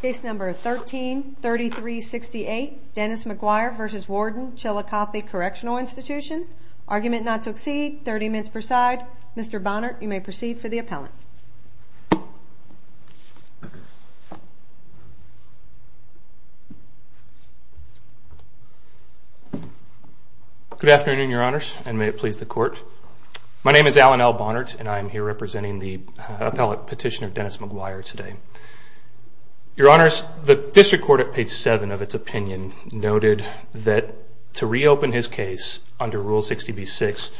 Case number 13-3368, Dennis McGuire v. Warden Chillicothe Correctional Institution. Argument not to accede, 30 minutes per side. Mr. Bonnert, you may proceed for the appellant. Good afternoon, your honors, and may it please the court. My name is Alan L. Bonnert, and I am here representing the appellate petitioner, Dennis McGuire, today. Your honors, the district court at page 7 of its opinion noted that to reopen his case under Rule 60b-6,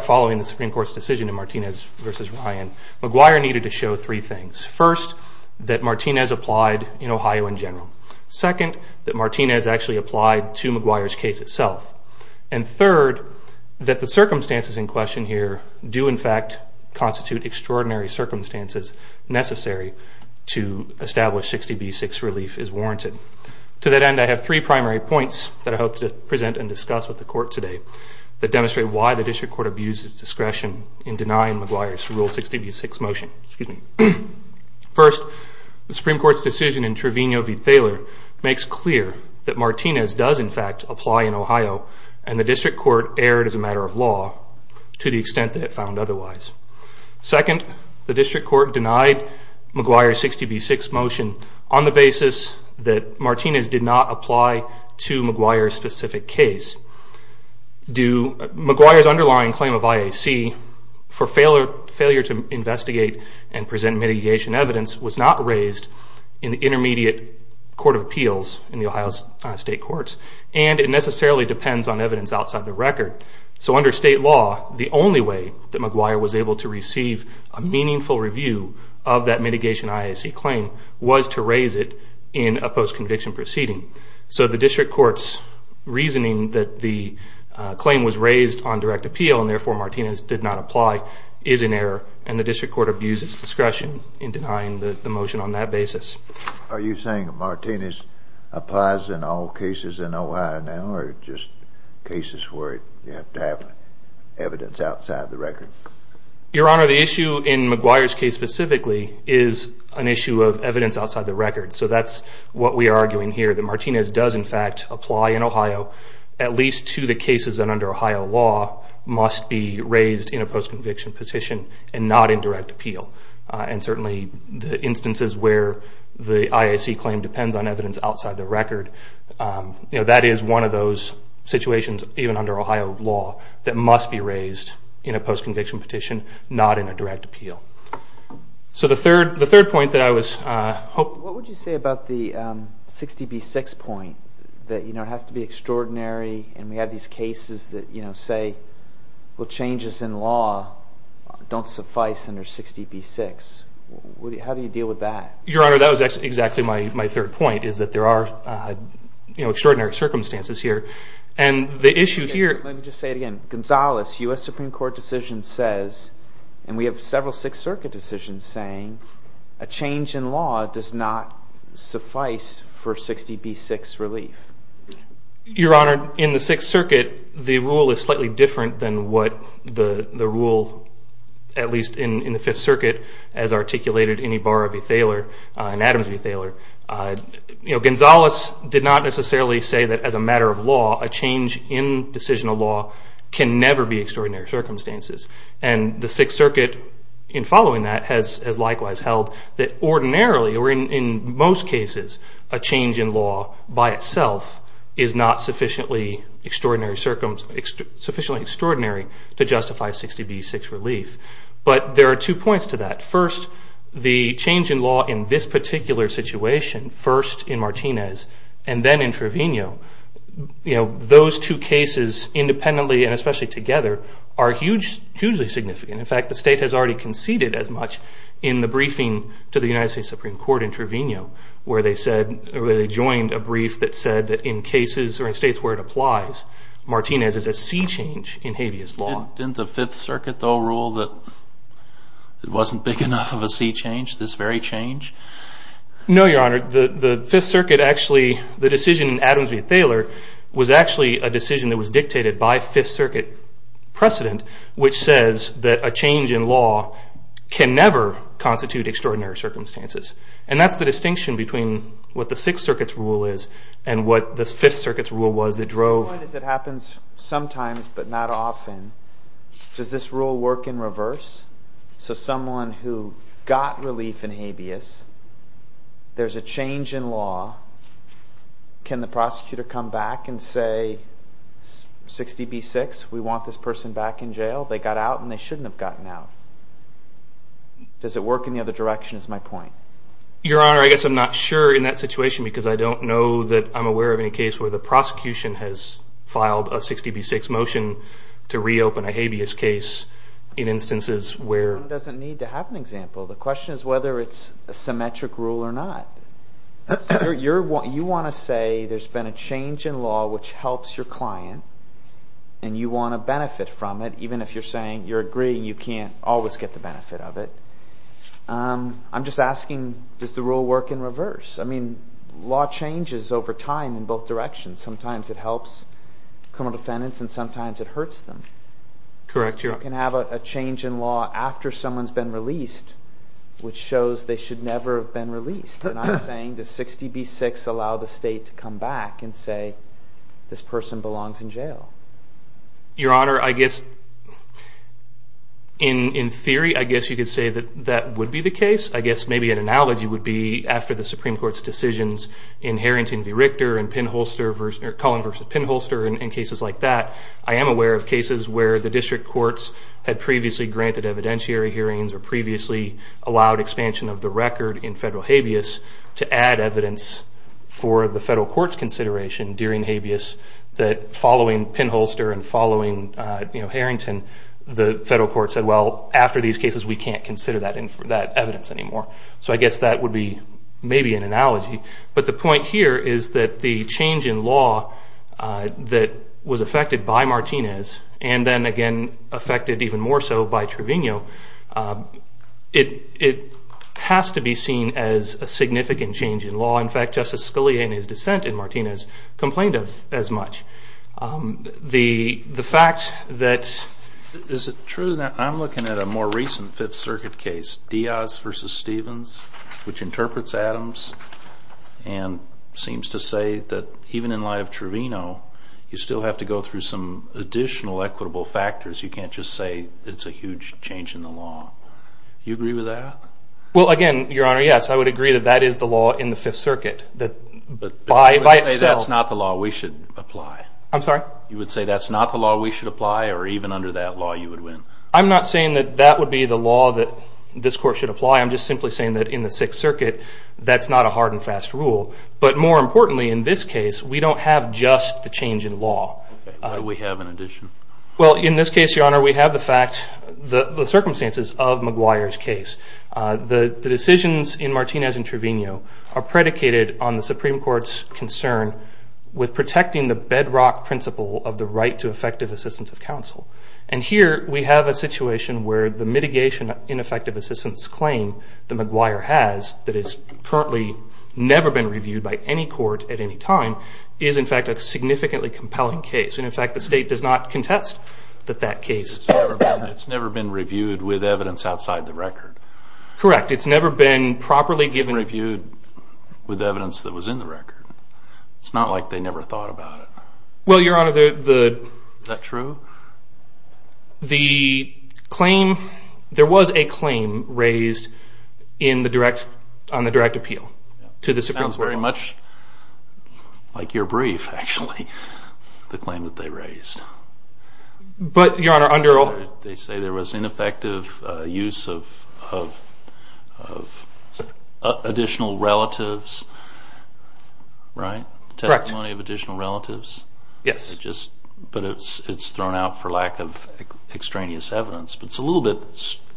following the Supreme Court's decision in Martinez v. Ryan, McGuire needed to show three things. First, that Martinez applied in Ohio in general. Second, that Martinez actually applied to McGuire's case itself. And third, that the circumstances in question here do in fact constitute extraordinary circumstances necessary to establish 60b-6 relief is warranted. To that end, I have three primary points that I hope to present and discuss with the court today that demonstrate why the district court abuses discretion in denying McGuire's Rule 60b-6 motion. First, the Supreme Court's decision in Trevino v. Thaler makes clear that Martinez does in fact apply in Ohio, and the district court erred as a matter of law to the extent that it found otherwise. Second, the district court denied McGuire's 60b-6 motion on the basis that Martinez did not apply to McGuire's specific case. McGuire's underlying claim of IAC for failure to investigate and present mitigation evidence was not raised in the Intermediate Court of Appeals in the Ohio State Courts, and it necessarily depends on evidence outside the record. So under state law, the only way that McGuire was able to receive a meaningful review of that mitigation IAC claim was to raise it in a post-conviction proceeding. So the district court's reasoning that the claim was raised on direct appeal and therefore Martinez did not apply is in error, and the district court abuses discretion in denying the motion on that basis. Are you saying that Martinez applies in all cases in Ohio now, or just cases where you have to have evidence outside the record? Your Honor, the issue in McGuire's case specifically is an issue of evidence outside the record. So that's what we are arguing here, that Martinez does in fact apply in Ohio at least to the cases that under Ohio law must be raised in a post-conviction petition and not in direct appeal. And certainly the instances where the IAC claim depends on evidence outside the record, that is one of those situations, even under Ohio law, that must be raised in a post-conviction petition, not in a direct appeal. So the third point that I was hoping... What would you say about the 60B6 point, that it has to be extraordinary, and we have these cases that say changes in law don't suffice under 60B6. How do you deal with that? Your Honor, that was exactly my third point, is that there are extraordinary circumstances here. And the issue here... Let me just say it again. Gonzalez, U.S. Supreme Court decision says, and we have several Sixth Circuit decisions saying, a change in law does not suffice for 60B6 relief. Your Honor, in the Sixth Circuit, the rule is slightly different than what the rule, at least in the Fifth Circuit, as articulated in Ibarra v. Thaler and Adams v. Thaler. Gonzalez did not necessarily say that, as a matter of law, a change in decisional law can never be extraordinary circumstances. And the Sixth Circuit, in following that, has likewise held that ordinarily, or in most cases, a change in law by itself is not sufficiently extraordinary to justify 60B6 relief. But there are two points to that. First, the change in law in this particular situation, first in Martinez and then in Trevino, those two cases independently and especially together are hugely significant. In fact, the State has already conceded as much in the briefing to the United States Supreme Court in Trevino, where they joined a brief that said that in cases or in states where it applies, Martinez is a sea change in habeas law. Didn't the Fifth Circuit, though, rule that it wasn't big enough of a sea change, this very change? No, Your Honor. The Fifth Circuit actually, the decision in Adams v. Thaler, was actually a decision that was dictated by Fifth Circuit precedent, which says that a change in law can never constitute extraordinary circumstances. And that's the distinction between what the Sixth Circuit's rule is and what the Fifth Circuit's rule was that drove... My point is it happens sometimes but not often. Does this rule work in reverse? So someone who got relief in habeas, there's a change in law. Can the prosecutor come back and say, 60B6, we want this person back in jail? They got out and they shouldn't have gotten out. Does it work in the other direction is my point. Your Honor, I guess I'm not sure in that situation because I don't know that I'm aware of any case where the prosecution has filed a 60B6 motion to reopen a habeas case in instances where... One doesn't need to have an example. The question is whether it's a symmetric rule or not. You want to say there's been a change in law which helps your client and you want to benefit from it, even if you're saying you're agreeing you can't always get the benefit of it. I'm just asking, does the rule work in reverse? I mean, law changes over time in both directions. Sometimes it helps criminal defendants and sometimes it hurts them. Correct, Your Honor. You can have a change in law after someone's been released which shows they should never have been released. And I'm saying, does 60B6 allow the state to come back and say, this person belongs in jail? Your Honor, I guess in theory, I guess you could say that that would be the case. I guess maybe an analogy would be after the Supreme Court's decisions in Harrington v. Richter and Cullen v. Pinholster and cases like that, I am aware of cases where the district courts had previously granted evidentiary hearings or previously allowed expansion of the record in federal habeas to add evidence for the federal court's consideration during habeas that following Pinholster and following Harrington, the federal court said, well, after these cases, we can't consider that evidence anymore. So I guess that would be maybe an analogy. But the point here is that the change in law that was affected by Martinez and then again affected even more so by Trevino, it has to be seen as a significant change in law. In fact, Justice Scalia in his dissent in Martinez complained of as much. The fact that… Is it true that I'm looking at a more recent Fifth Circuit case, Diaz v. Stevens, which interprets Adams and seems to say that even in light of Trevino, you still have to go through some additional equitable factors. You can't just say it's a huge change in the law. Do you agree with that? Well, again, Your Honor, yes. I would agree that that is the law in the Fifth Circuit that by itself… I'm sorry? You would say that's not the law we should apply or even under that law you would win? I'm not saying that that would be the law that this court should apply. I'm just simply saying that in the Sixth Circuit, that's not a hard and fast rule. But more importantly, in this case, we don't have just the change in law. What do we have in addition? Well, in this case, Your Honor, we have the circumstances of McGuire's case. The decisions in Martinez and Trevino are predicated on the Supreme Court's concern with protecting the bedrock principle of the right to effective assistance of counsel. And here we have a situation where the mitigation in effective assistance claim that McGuire has that has currently never been reviewed by any court at any time is, in fact, a significantly compelling case. And, in fact, the state does not contest that that case… It's never been reviewed with evidence outside the record. Correct. It's never been properly given… It's not like they never thought about it. Well, Your Honor, the… Is that true? The claim…there was a claim raised on the direct appeal to the Supreme Court. It sounds very much like your brief, actually, the claim that they raised. But, Your Honor, under… They say there was ineffective use of additional relatives, right? Correct. Testimony of additional relatives? Yes. But it's thrown out for lack of extraneous evidence. But it's a little bit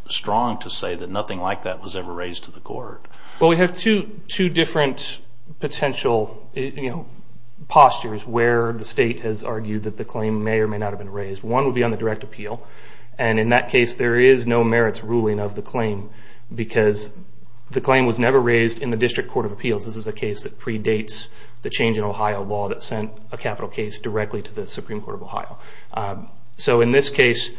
strong to say that nothing like that was ever raised to the court. Well, we have two different potential postures where the state has argued that the claim may or may not have been raised. One would be on the direct appeal. And, in that case, there is no merits ruling of the claim because the claim was never raised in the District Court of Appeals. This is a case that predates the change in Ohio law that sent a capital case directly to the Supreme Court of Ohio. So, in this case,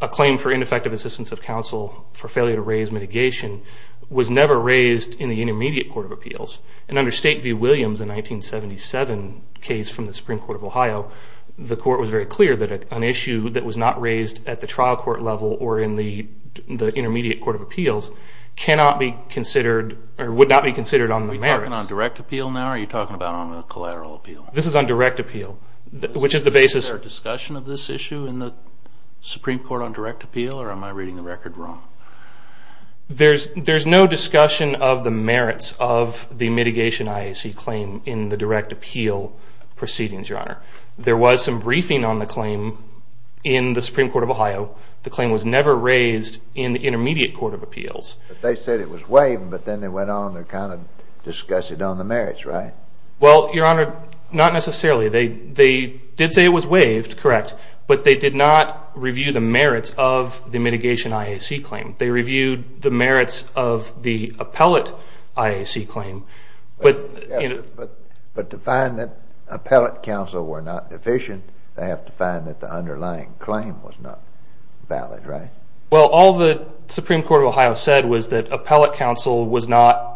a claim for ineffective assistance of counsel for failure to raise mitigation was never raised in the Intermediate Court of Appeals. And, under State v. Williams, the 1977 case from the Supreme Court of Ohio, the court was very clear that an issue that was not raised at the trial court level or in the Intermediate Court of Appeals cannot be considered or would not be considered on the merits. Are we talking on direct appeal now or are you talking about on a collateral appeal? This is on direct appeal, which is the basis. Is there a discussion of this issue in the Supreme Court on direct appeal or am I reading the record wrong? There's no discussion of the merits of the mitigation IAC claim in the direct appeal proceedings, Your Honor. There was some briefing on the claim in the Supreme Court of Ohio. The claim was never raised in the Intermediate Court of Appeals. But they said it was waived, but then they went on to kind of discuss it on the merits, right? Well, Your Honor, not necessarily. They did say it was waived, correct, but they did not review the merits of the mitigation IAC claim. They reviewed the merits of the appellate IAC claim. But to find that appellate counsel were not deficient, they have to find that the underlying claim was not valid, right? Well, all the Supreme Court of Ohio said was that appellate counsel was not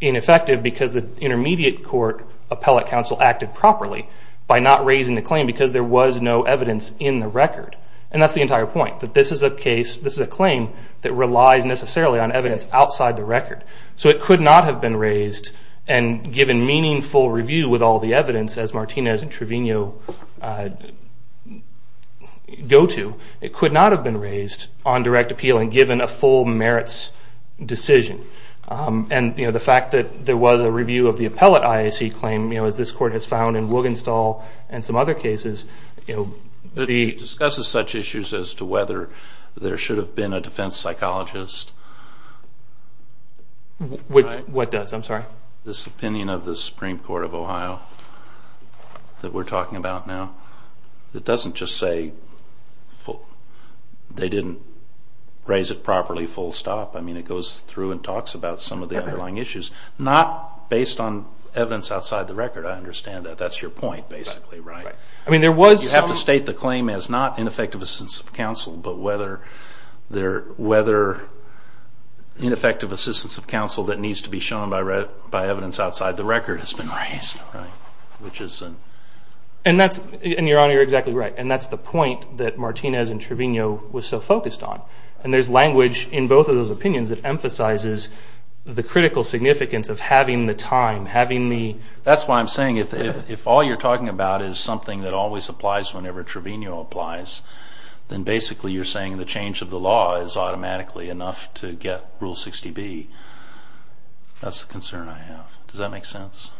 ineffective because the Intermediate Court appellate counsel acted properly by not raising the claim because there was no evidence in the record. And that's the entire point, that this is a case, this is a claim, that relies necessarily on evidence outside the record. So it could not have been raised and given meaningful review with all the evidence, as Martinez and Trevino go to. It could not have been raised on direct appeal and given a full merits decision. And the fact that there was a review of the appellate IAC claim, as this Court has found in Wogenstall and some other cases. It discusses such issues as to whether there should have been a defense psychologist. What does? I'm sorry. This opinion of the Supreme Court of Ohio that we're talking about now. It doesn't just say they didn't raise it properly full stop. I mean, it goes through and talks about some of the underlying issues, not based on evidence outside the record. I understand that. That's your point basically, right? I mean, there was some... You have to state the claim as not ineffective assistance of counsel, but whether ineffective assistance of counsel that needs to be shown by evidence outside the record, has been raised, right? And Your Honor, you're exactly right. And that's the point that Martinez and Trevino were so focused on. And there's language in both of those opinions that emphasizes the critical significance of having the time, having the... That's why I'm saying if all you're talking about is something that always applies whenever Trevino applies, then basically you're saying the change of the law is automatically enough to get Rule 60B. That's the concern I have. Does that make sense?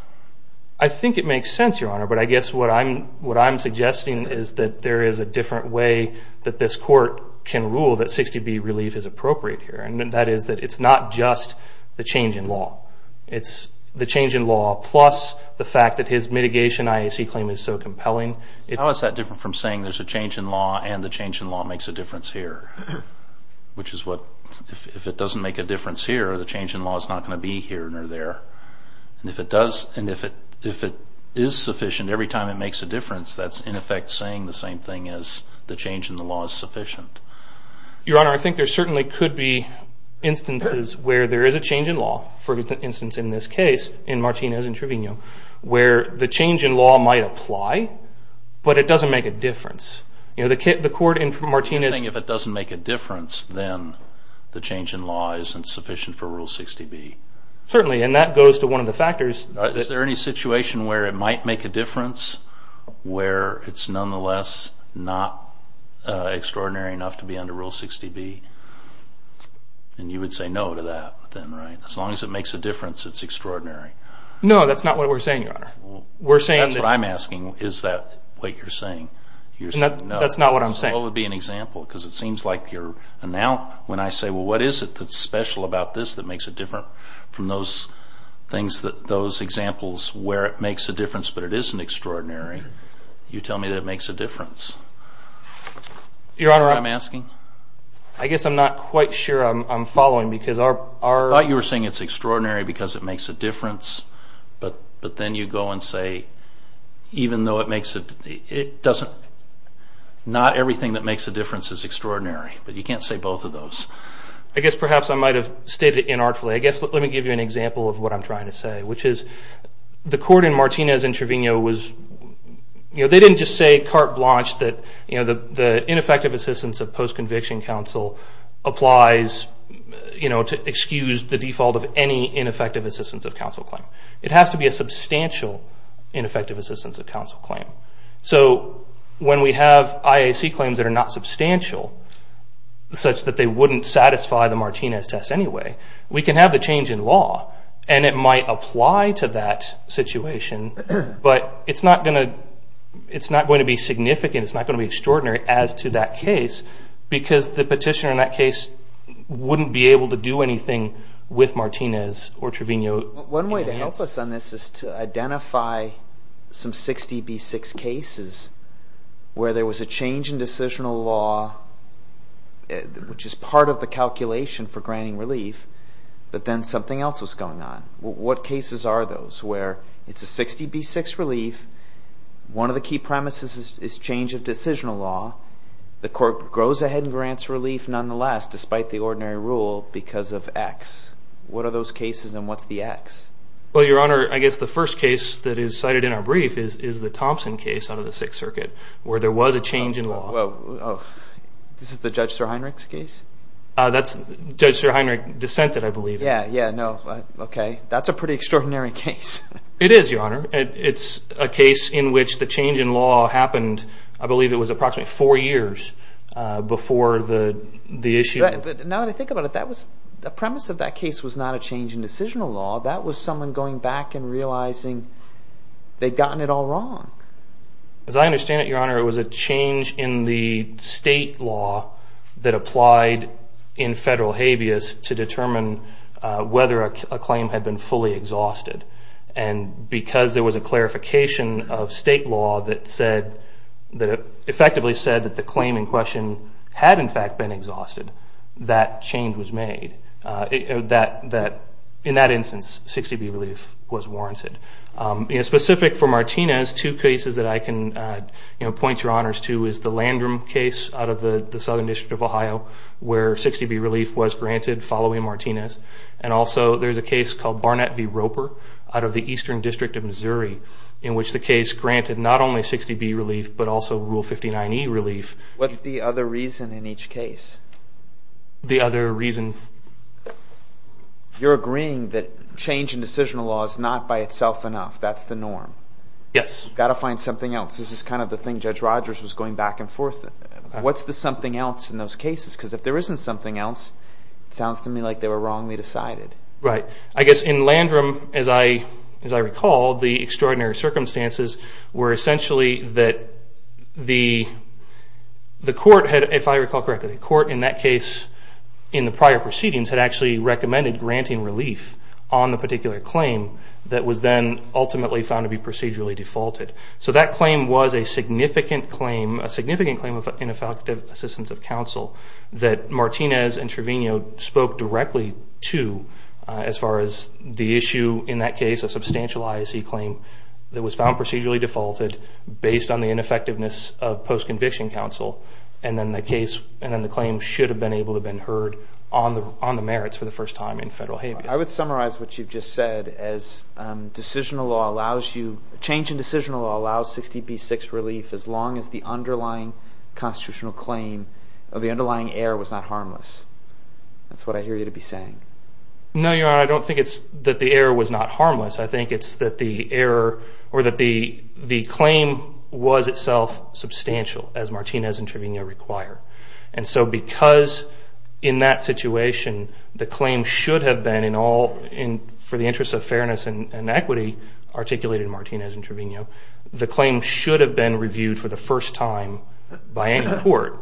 I think it makes sense, Your Honor, but I guess what I'm suggesting is that there is a different way that this Court can rule that 60B relief is appropriate here. And that is that it's not just the change in law. It's the change in law plus the fact that his mitigation IAC claim is so compelling. How is that different from saying there's a change in law and the change in law makes a difference here? Which is what... If it doesn't make a difference here, the change in law is not going to be here nor there. And if it does... And if it is sufficient every time it makes a difference, that's in effect saying the same thing as the change in the law is sufficient. Your Honor, I think there certainly could be instances where there is a change in law for instance in this case, in Martinez and Trevino, where the change in law might apply, but it doesn't make a difference. The Court in Martinez... You're saying if it doesn't make a difference, then the change in law isn't sufficient for Rule 60B. Certainly, and that goes to one of the factors... Is there any situation where it might make a difference, where it's nonetheless not extraordinary enough to be under Rule 60B? And you would say no to that then, right? As long as it makes a difference, it's extraordinary. No, that's not what we're saying, Your Honor. That's what I'm asking. Is that what you're saying? That's not what I'm saying. So what would be an example? Because it seems like you're... And now when I say, well, what is it that's special about this that makes it different from those things, those examples where it makes a difference but it isn't extraordinary, you tell me that it makes a difference. Your Honor... Is that what I'm asking? I guess I'm not quite sure I'm following because our... I thought you were saying it's extraordinary because it makes a difference, but then you go and say even though it makes a... It doesn't... Not everything that makes a difference is extraordinary, but you can't say both of those. I guess perhaps I might have stated it inartfully. I guess let me give you an example of what I'm trying to say, which is the court in Martinez and Trevino was... The ineffective assistance of post-conviction counsel applies to excuse the default of any ineffective assistance of counsel claim. It has to be a substantial ineffective assistance of counsel claim. So when we have IAC claims that are not substantial, such that they wouldn't satisfy the Martinez test anyway, we can have the change in law and it might apply to that situation, but it's not going to be significant. It's not going to be extraordinary as to that case because the petitioner in that case wouldn't be able to do anything with Martinez or Trevino. One way to help us on this is to identify some 60B6 cases where there was a change in decisional law, which is part of the calculation for granting relief, but then something else was going on. What cases are those where it's a 60B6 relief, one of the key premises is change of decisional law. The court goes ahead and grants relief nonetheless, despite the ordinary rule because of X. What are those cases and what's the X? Well, Your Honor, I guess the first case that is cited in our brief is the Thompson case out of the Sixth Circuit where there was a change in law. This is the Judge Sir Heinrich's case? That's Judge Sir Heinrich dissented, I believe. Yeah, yeah, no, okay. That's a pretty extraordinary case. It is, Your Honor. It's a case in which the change in law happened, I believe it was approximately four years before the issue. Now that I think about it, the premise of that case was not a change in decisional law. That was someone going back and realizing they'd gotten it all wrong. As I understand it, Your Honor, it was a change in the state law that applied in federal habeas to determine whether a claim had been fully exhausted. And because there was a clarification of state law that effectively said that the claim in question had in fact been exhausted, that change was made. In that instance, 60B relief was warranted. Specific for Martinez, two cases that I can point Your Honors to is the Landrum case out of the Southern District of Ohio where 60B relief was granted following Martinez. And also there's a case called Barnett v. Roper out of the Eastern District of Missouri in which the case granted not only 60B relief but also Rule 59E relief. What's the other reason in each case? The other reason? You're agreeing that change in decisional law is not by itself enough. That's the norm. Yes. You've got to find something else. This is kind of the thing Judge Rogers was going back and forth. What's the something else in those cases? Because if there isn't something else, it sounds to me like they were wrongly decided. Right. I guess in Landrum, as I recall, the extraordinary circumstances were essentially that the court had, if I recall correctly, the court in that case in the prior proceedings had actually recommended granting relief on the particular claim that was then ultimately found to be procedurally defaulted. So that claim was a significant claim, a significant claim of ineffective assistance of counsel that Martinez and Trevino spoke directly to as far as the issue in that case, a substantial IAC claim that was found procedurally defaulted based on the ineffectiveness of post-conviction counsel and then the claim should have been able to have been heard on the merits for the first time in federal habeas. I would summarize what you've just said as change in decisional law allows 60B6 relief as long as the underlying constitutional claim or the underlying error was not harmless. That's what I hear you to be saying. No, Your Honor. I don't think it's that the error was not harmless. I think it's that the error or that the claim was itself substantial as Martinez and Trevino require. And so because in that situation the claim should have been in all for the interests of fairness and equity articulated in Martinez and Trevino, the claim should have been reviewed for the first time by any court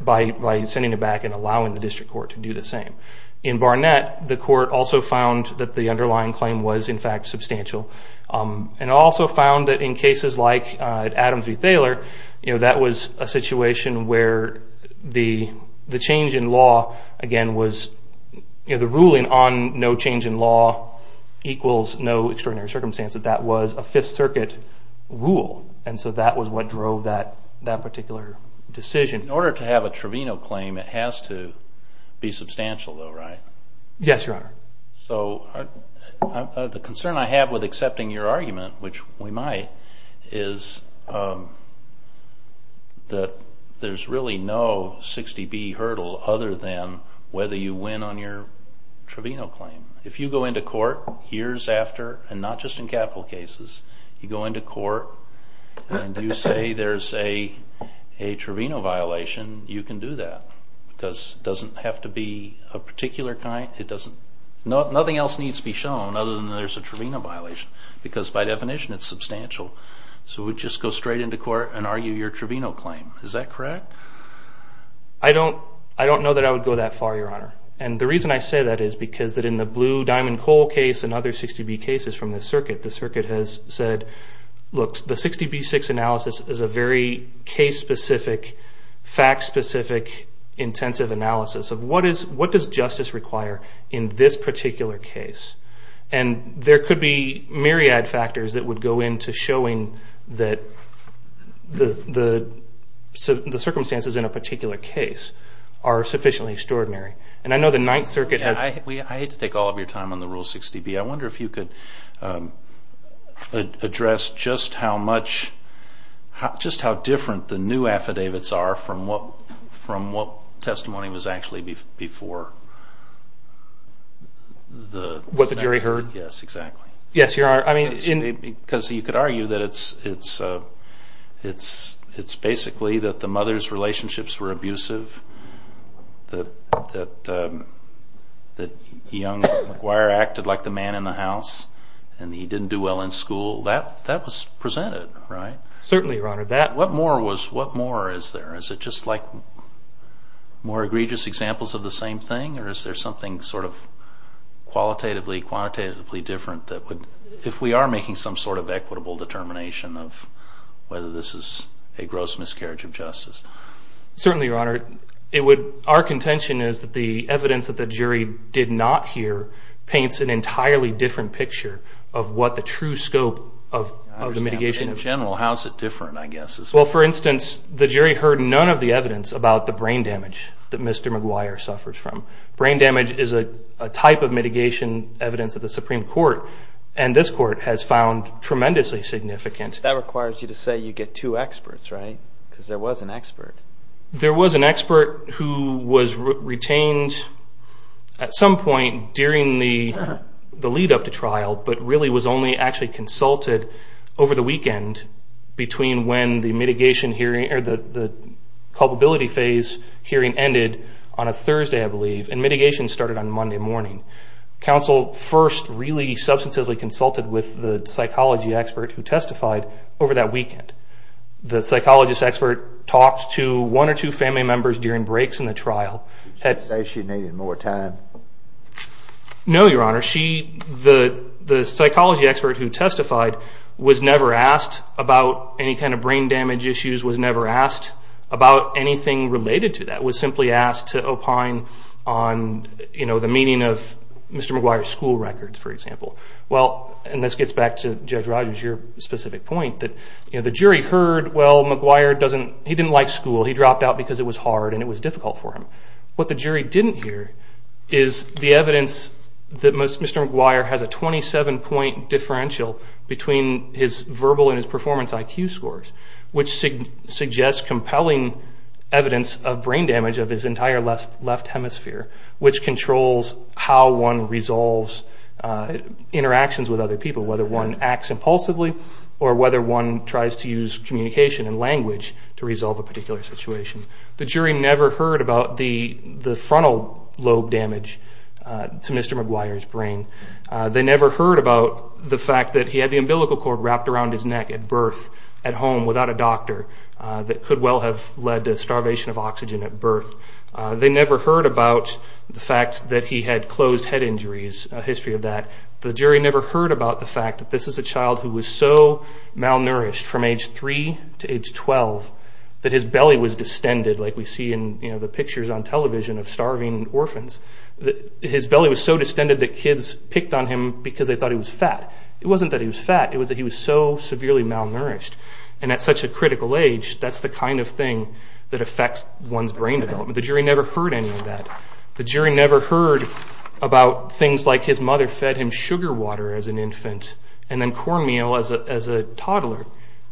by sending it back and allowing the district court to do the same. In Barnett, the court also found that the underlying claim was in fact substantial and also found that in cases like Adams v. Thaler, that was a situation where the change in law, again, was the ruling on no change in law equals no extraordinary circumstance, that that was a Fifth Circuit rule. And so that was what drove that particular decision. In order to have a Trevino claim, it has to be substantial though, right? Yes, Your Honor. So the concern I have with accepting your argument, which we might, is that there's really no 60B hurdle other than whether you win on your Trevino claim. If you go into court years after, and not just in capital cases, you go into court and you say there's a Trevino violation, you can do that because it doesn't have to be a particular kind. Nothing else needs to be shown other than there's a Trevino violation because by definition it's substantial. So we just go straight into court and argue your Trevino claim. Is that correct? I don't know that I would go that far, Your Honor. And the reason I say that is because in the Blue Diamond Coal case and other 60B cases from this circuit, the circuit has said, look, the 60B-6 analysis is a very case-specific, fact-specific intensive analysis of what does justice require in this particular case. And there could be myriad factors that would go into showing that the circumstances in a particular case are sufficiently extraordinary. And I know the Ninth Circuit has... I hate to take all of your time on the Rule 60B. I wonder if you could address just how much, just how different the new affidavits are from what testimony was actually before. What the jury heard? Yes, exactly. Yes, Your Honor. Because you could argue that it's basically that the mother's relationships were abusive, that young McGuire acted like the man in the house, and he didn't do well in school. That was presented, right? Certainly, Your Honor. What more is there? Is it just like more egregious examples of the same thing? Or is there something sort of qualitatively, quantitatively different that if we are making some sort of equitable determination of whether this is a gross miscarriage of justice? Certainly, Your Honor. Our contention is that the evidence that the jury did not hear paints an entirely different picture of what the true scope of the mitigation is. In general, how is it different, I guess? Well, for instance, the jury heard none of the evidence about the brain damage that Mr. McGuire suffers from. Brain damage is a type of mitigation evidence at the Supreme Court, and this Court has found tremendously significant. That requires you to say you get two experts, right? Because there was an expert. There was an expert who was retained at some point during the lead-up to trial, but really was only actually consulted over the weekend between when the culpability phase hearing ended on a Thursday, I believe, and mitigation started on Monday morning. Counsel first really substantively consulted with the psychology expert who testified over that weekend. The psychologist expert talked to one or two family members during breaks in the trial. Did she say she needed more time? No, Your Honor. The psychology expert who testified was never asked about any kind of brain damage issues, was never asked about anything related to that, was simply asked to opine on the meaning of Mr. McGuire's school records, for example. Well, and this gets back to Judge Rogers, your specific point, that the jury heard, well, McGuire, he didn't like school. He dropped out because it was hard and it was difficult for him. What the jury didn't hear is the evidence that Mr. McGuire has a 27-point differential between his verbal and his performance IQ scores, which suggests compelling evidence of brain damage of his entire left hemisphere, which controls how one resolves interactions with other people, whether one acts impulsively or whether one tries to use communication and language to resolve a particular situation. The jury never heard about the frontal lobe damage to Mr. McGuire's brain. They never heard about the fact that he had the umbilical cord wrapped around his neck at birth at home without a doctor that could well have led to starvation of oxygen at birth. They never heard about the fact that he had closed head injuries, a history of that. The jury never heard about the fact that this is a child who was so malnourished from age 3 to age 12 that his belly was distended, like we see in the pictures on television of starving orphans. His belly was so distended that kids picked on him because they thought he was fat. It wasn't that he was fat. It was that he was so severely malnourished. And at such a critical age, that's the kind of thing that affects one's brain development. The jury never heard any of that. The jury never heard about things like his mother fed him sugar water as an infant and then cornmeal as a toddler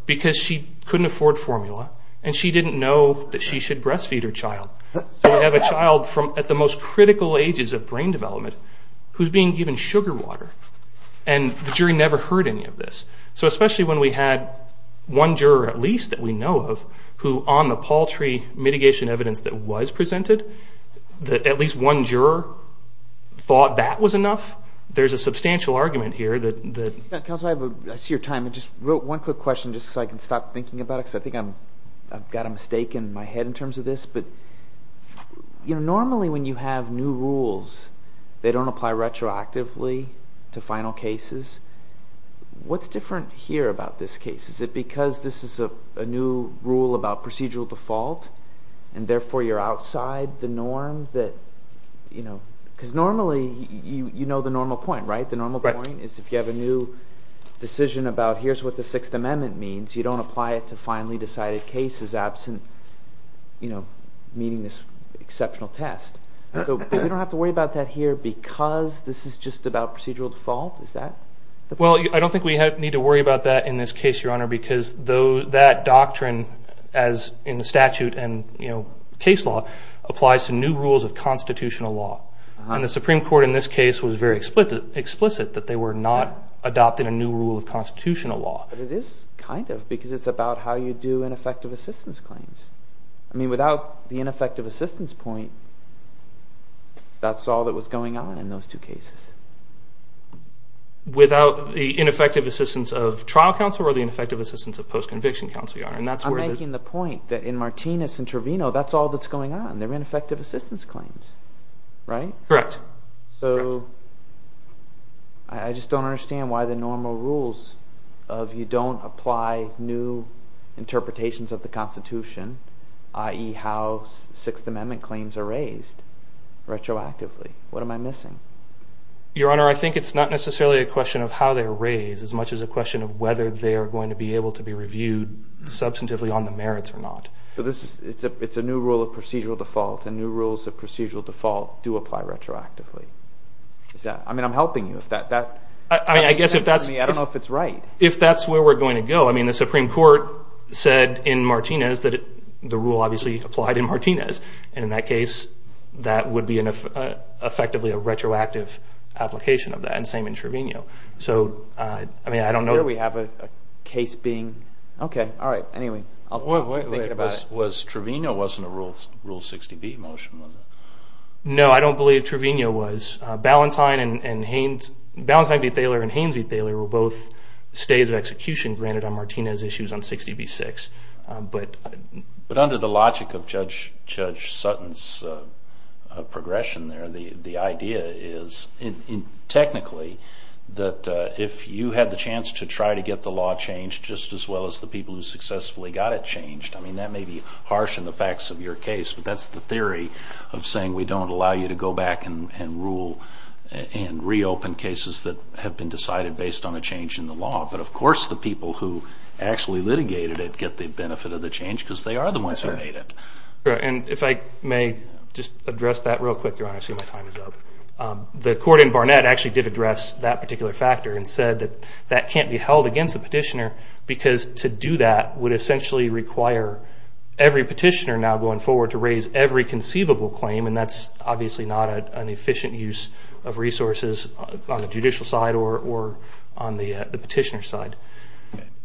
because she couldn't afford formula and she didn't know that she should breastfeed her child. So we have a child at the most critical ages of brain development who's being given sugar water, and the jury never heard any of this. So especially when we had one juror at least that we know of who on the paltry mitigation evidence that was presented, that at least one juror thought that was enough, there's a substantial argument here that... Counselor, I see your time. Just one quick question just so I can stop thinking about it because I think I've got a mistake in my head in terms of this. Normally when you have new rules, they don't apply retroactively to final cases. What's different here about this case? Is it because this is a new rule about procedural default and therefore you're outside the norm? Because normally you know the normal point, right? The normal point is if you have a new decision about here's what the Sixth Amendment means, you don't apply it to finally decided cases absent meeting this exceptional test. So we don't have to worry about that here because this is just about procedural default? Is that the point? Well, I don't think we need to worry about that in this case, Your Honor, because that doctrine as in the statute and case law applies to new rules of constitutional law. And the Supreme Court in this case was very explicit that they were not adopting a new rule of constitutional law. But it is kind of because it's about how you do ineffective assistance claims. I mean without the ineffective assistance point, that's all that was going on in those two cases. Without the ineffective assistance of trial counsel or the ineffective assistance of post-conviction counsel, Your Honor? I'm making the point that in Martinez and Trevino, that's all that's going on. They're ineffective assistance claims, right? Correct. So I just don't understand why the normal rules of you don't apply new interpretations of the Constitution, i.e. how Sixth Amendment claims are raised retroactively. What am I missing? Your Honor, I think it's not necessarily a question of how they're raised as much as a question of whether they're going to be able to be reviewed substantively on the merits or not. So it's a new rule of procedural default, and new rules of procedural default do apply retroactively. I mean, I'm helping you. I mean, I guess if that's where we're going to go. I mean, the Supreme Court said in Martinez that the rule obviously applied in Martinez. And in that case, that would be effectively a retroactive application of that, and same in Trevino. So, I mean, I don't know. Here we have a case being... Okay, all right, anyway. We're thinking about it. Was Trevino wasn't a Rule 60B motion, was it? No, I don't believe Trevino was. Ballantyne v. Thaler and Haines v. Thaler were both stays of execution granted on Martinez issues on 60B-6. But under the logic of Judge Sutton's progression there, the idea is, technically, that if you had the chance to try to get the law changed just as well as the people who successfully got it changed, I mean, that may be harsh in the facts of your case, but that's the theory of saying we don't allow you to go back and rule and reopen cases that have been decided based on a change in the law. But, of course, the people who actually litigated it get the benefit of the change because they are the ones who made it. And if I may just address that real quick, Your Honor. I see my time is up. The court in Barnett actually did address that particular factor and said that that can't be held against the petitioner because to do that would essentially require every petitioner now going forward to raise every conceivable claim, and that's obviously not an efficient use of resources on the judicial side or on the petitioner side.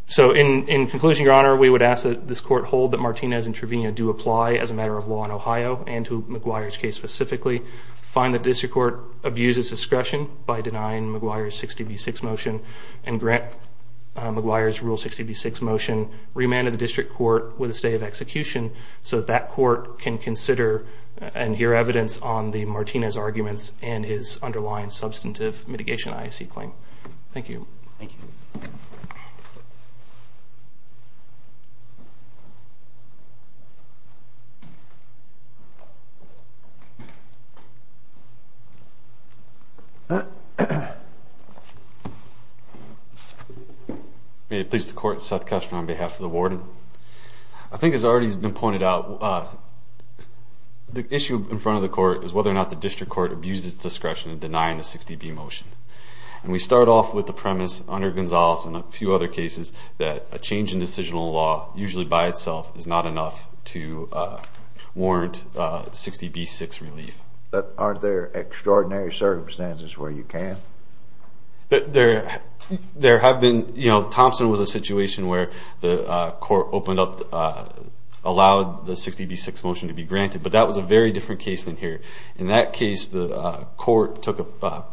So in conclusion, Your Honor, we would ask that this court hold that Martinez and Trevino do apply as a matter of law in Ohio and to McGuire's case specifically, find that the district court abuses discretion by denying McGuire's 60B-6 motion and grant McGuire's Rule 60B-6 motion remand to the district court with a stay of execution so that that court can consider and hear evidence on the Martinez arguments and his underlying substantive mitigation IAC claim. Thank you. Thank you. May it please the Court, Seth Kessler on behalf of the warden. I think it's already been pointed out, the issue in front of the court is whether or not the district court abuses discretion in denying the 60B motion. And we start off with the premise under Gonzales and a few other cases that a change in decisional law, usually by itself, is not enough to warrant 60B-6 relief. But aren't there extraordinary circumstances where you can? There have been. You know, Thompson was a situation where the court opened up, allowed the 60B-6 motion to be granted. But that was a very different case than here. In that case, the court took a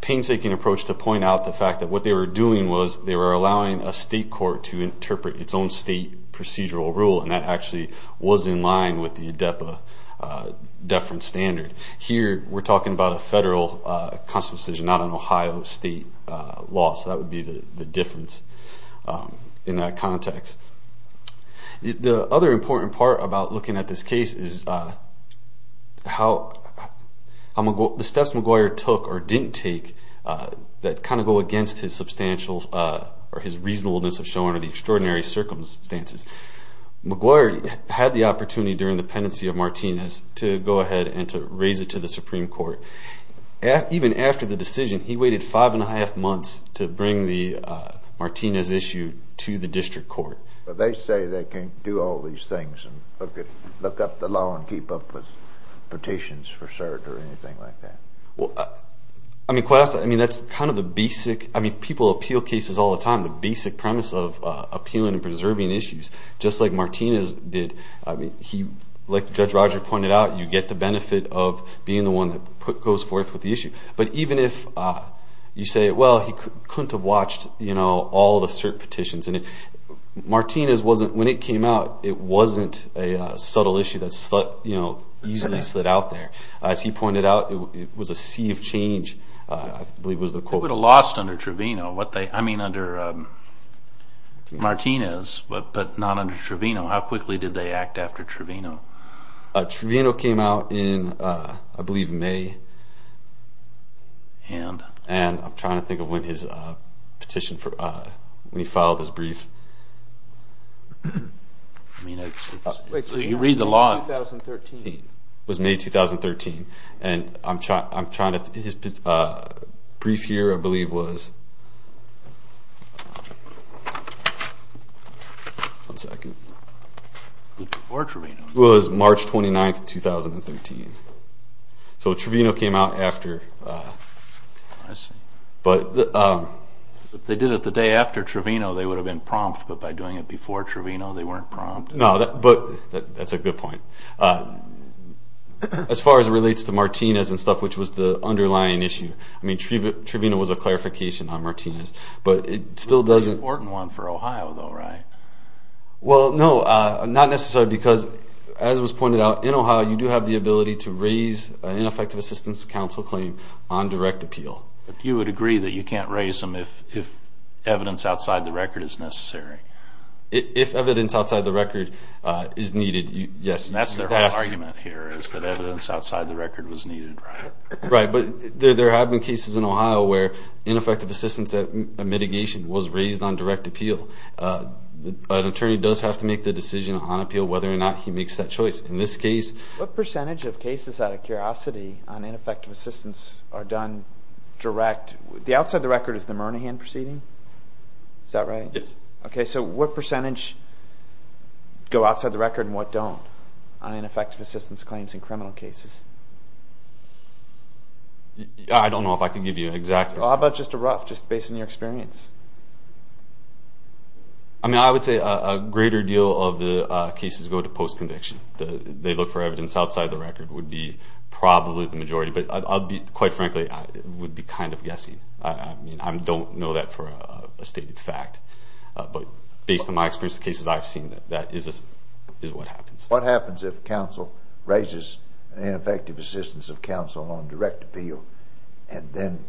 painstaking approach to point out the fact that what they were doing was they were allowing a state court to interpret its own state procedural rule, and that actually was in line with the ADEPA deference standard. Here, we're talking about a federal constitutional decision, not an Ohio state law. So that would be the difference in that context. The other important part about looking at this case is how the steps McGuire took or didn't take that kind of go against his substantial or his reasonableness of showing the extraordinary circumstances. McGuire had the opportunity during the pendency of Martinez to go ahead and to raise it to the Supreme Court. Even after the decision, he waited five and a half months to bring the Martinez issue to the district court. They say they can't do all these things and look up the law and keep up with petitions for cert or anything like that. Well, I mean, that's kind of the basic, I mean, people appeal cases all the time. The basic premise of appealing and preserving issues, just like Martinez did, I mean, he, like Judge Roger pointed out, you get the benefit of being the one that goes forth with the issue. But even if you say, well, he couldn't have watched, you know, all the cert petitions, and Martinez wasn't, when it came out, it wasn't a subtle issue that, you know, easily slid out there. As he pointed out, it was a sea of change, I believe was the quote. What would have lost under Trevino, I mean, under Martinez, but not under Trevino? How quickly did they act after Trevino? Trevino came out in, I believe, May. And? And I'm trying to think of when his petition, when he filed his brief. You read the law. It was May 2013. And I'm trying to, his brief here, I believe, was, one second. Before Trevino. It was March 29, 2013. So Trevino came out after. I see. But. If they did it the day after Trevino, they would have been prompt. But by doing it before Trevino, they weren't prompt. No, but that's a good point. As far as it relates to Martinez and stuff, which was the underlying issue. I mean, Trevino was a clarification on Martinez. But it still doesn't. It was an important one for Ohio, though, right? Well, no, not necessarily because, as was pointed out, in Ohio, you do have the ability to raise an ineffective assistance counsel claim on direct appeal. But you would agree that you can't raise them if evidence outside the record is necessary? If evidence outside the record is needed, yes. And that's their whole argument here is that evidence outside the record was needed, right? Right. But there have been cases in Ohio where ineffective assistance mitigation was raised on direct appeal. An attorney does have to make the decision on appeal whether or not he makes that choice. In this case. What percentage of cases, out of curiosity, on ineffective assistance are done direct? The outside the record is the Murnahan proceeding. Is that right? Yes. Okay. So what percentage go outside the record and what don't on ineffective assistance claims in criminal cases? I don't know if I can give you an exact answer. How about just a rough, just based on your experience? I mean, I would say a greater deal of the cases go to post-conviction. They look for evidence outside the record would be probably the majority. But quite frankly, it would be kind of guessing. I mean, I don't know that for a stated fact. But based on my experience of cases I've seen, that is what happens. What happens if counsel raises ineffective assistance of counsel on direct appeal and then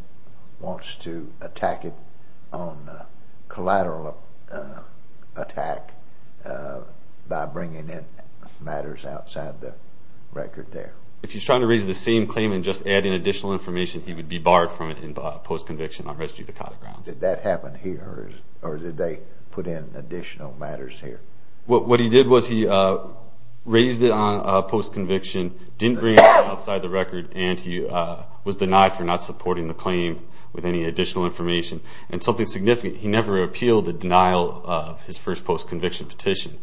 wants to attack it on collateral attack by bringing in matters outside the record there? If he's trying to raise the same claim and just adding additional information, he would be barred from it in post-conviction on residue to collateral grounds. Did that happen here or did they put in additional matters here? What he did was he raised it on post-conviction, didn't bring it outside the record, and he was denied for not supporting the claim with any additional information. And something significant, he never appealed the denial of his first post-conviction petition.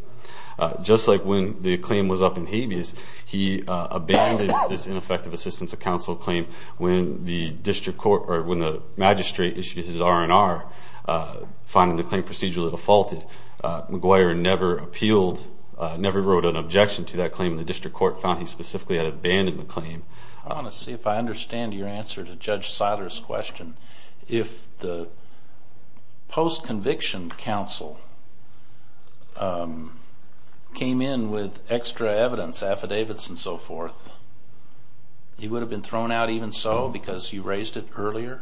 Just like when the claim was up in habeas, he abandoned this ineffective assistance of counsel claim when the magistrate issued his R&R finding the claim procedurally defaulted. McGuire never wrote an objection to that claim. The district court found he specifically had abandoned the claim. I want to see if I understand your answer to Judge Siler's question. If the post-conviction counsel came in with extra evidence, affidavits and so forth, he would have been thrown out even so because you raised it earlier?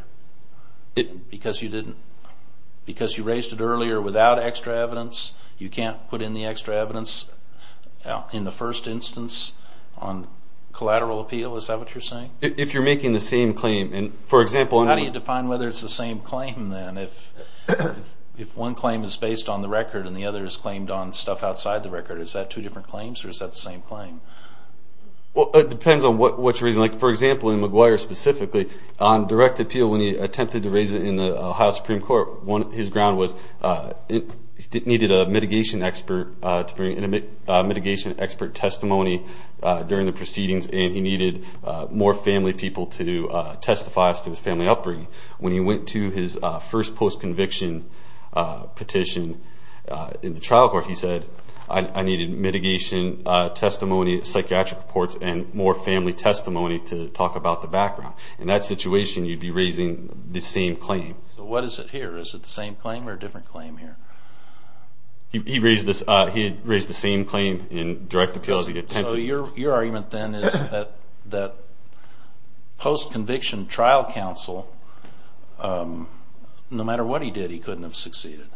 Because you raised it earlier without extra evidence, you can't put in the extra evidence in the first instance on collateral appeal? Is that what you're saying? If you're making the same claim. How do you define whether it's the same claim then? If one claim is based on the record and the other is claimed on stuff outside the record, is that two different claims or is that the same claim? It depends on what you're raising. For example, in McGuire specifically, on direct appeal, when he attempted to raise it in the Ohio Supreme Court, his ground was he needed a mitigation expert testimony during the proceedings and he needed more family people to testify as to his family upbringing. When he went to his first post-conviction petition in the trial court, he said I needed mitigation testimony, psychiatric reports and more family testimony to talk about the background. In that situation, you'd be raising the same claim. So what is it here? Is it the same claim or a different claim here? He raised the same claim in direct appeal as he attempted. So your argument then is that post-conviction trial counsel, no matter what he did, he couldn't have succeeded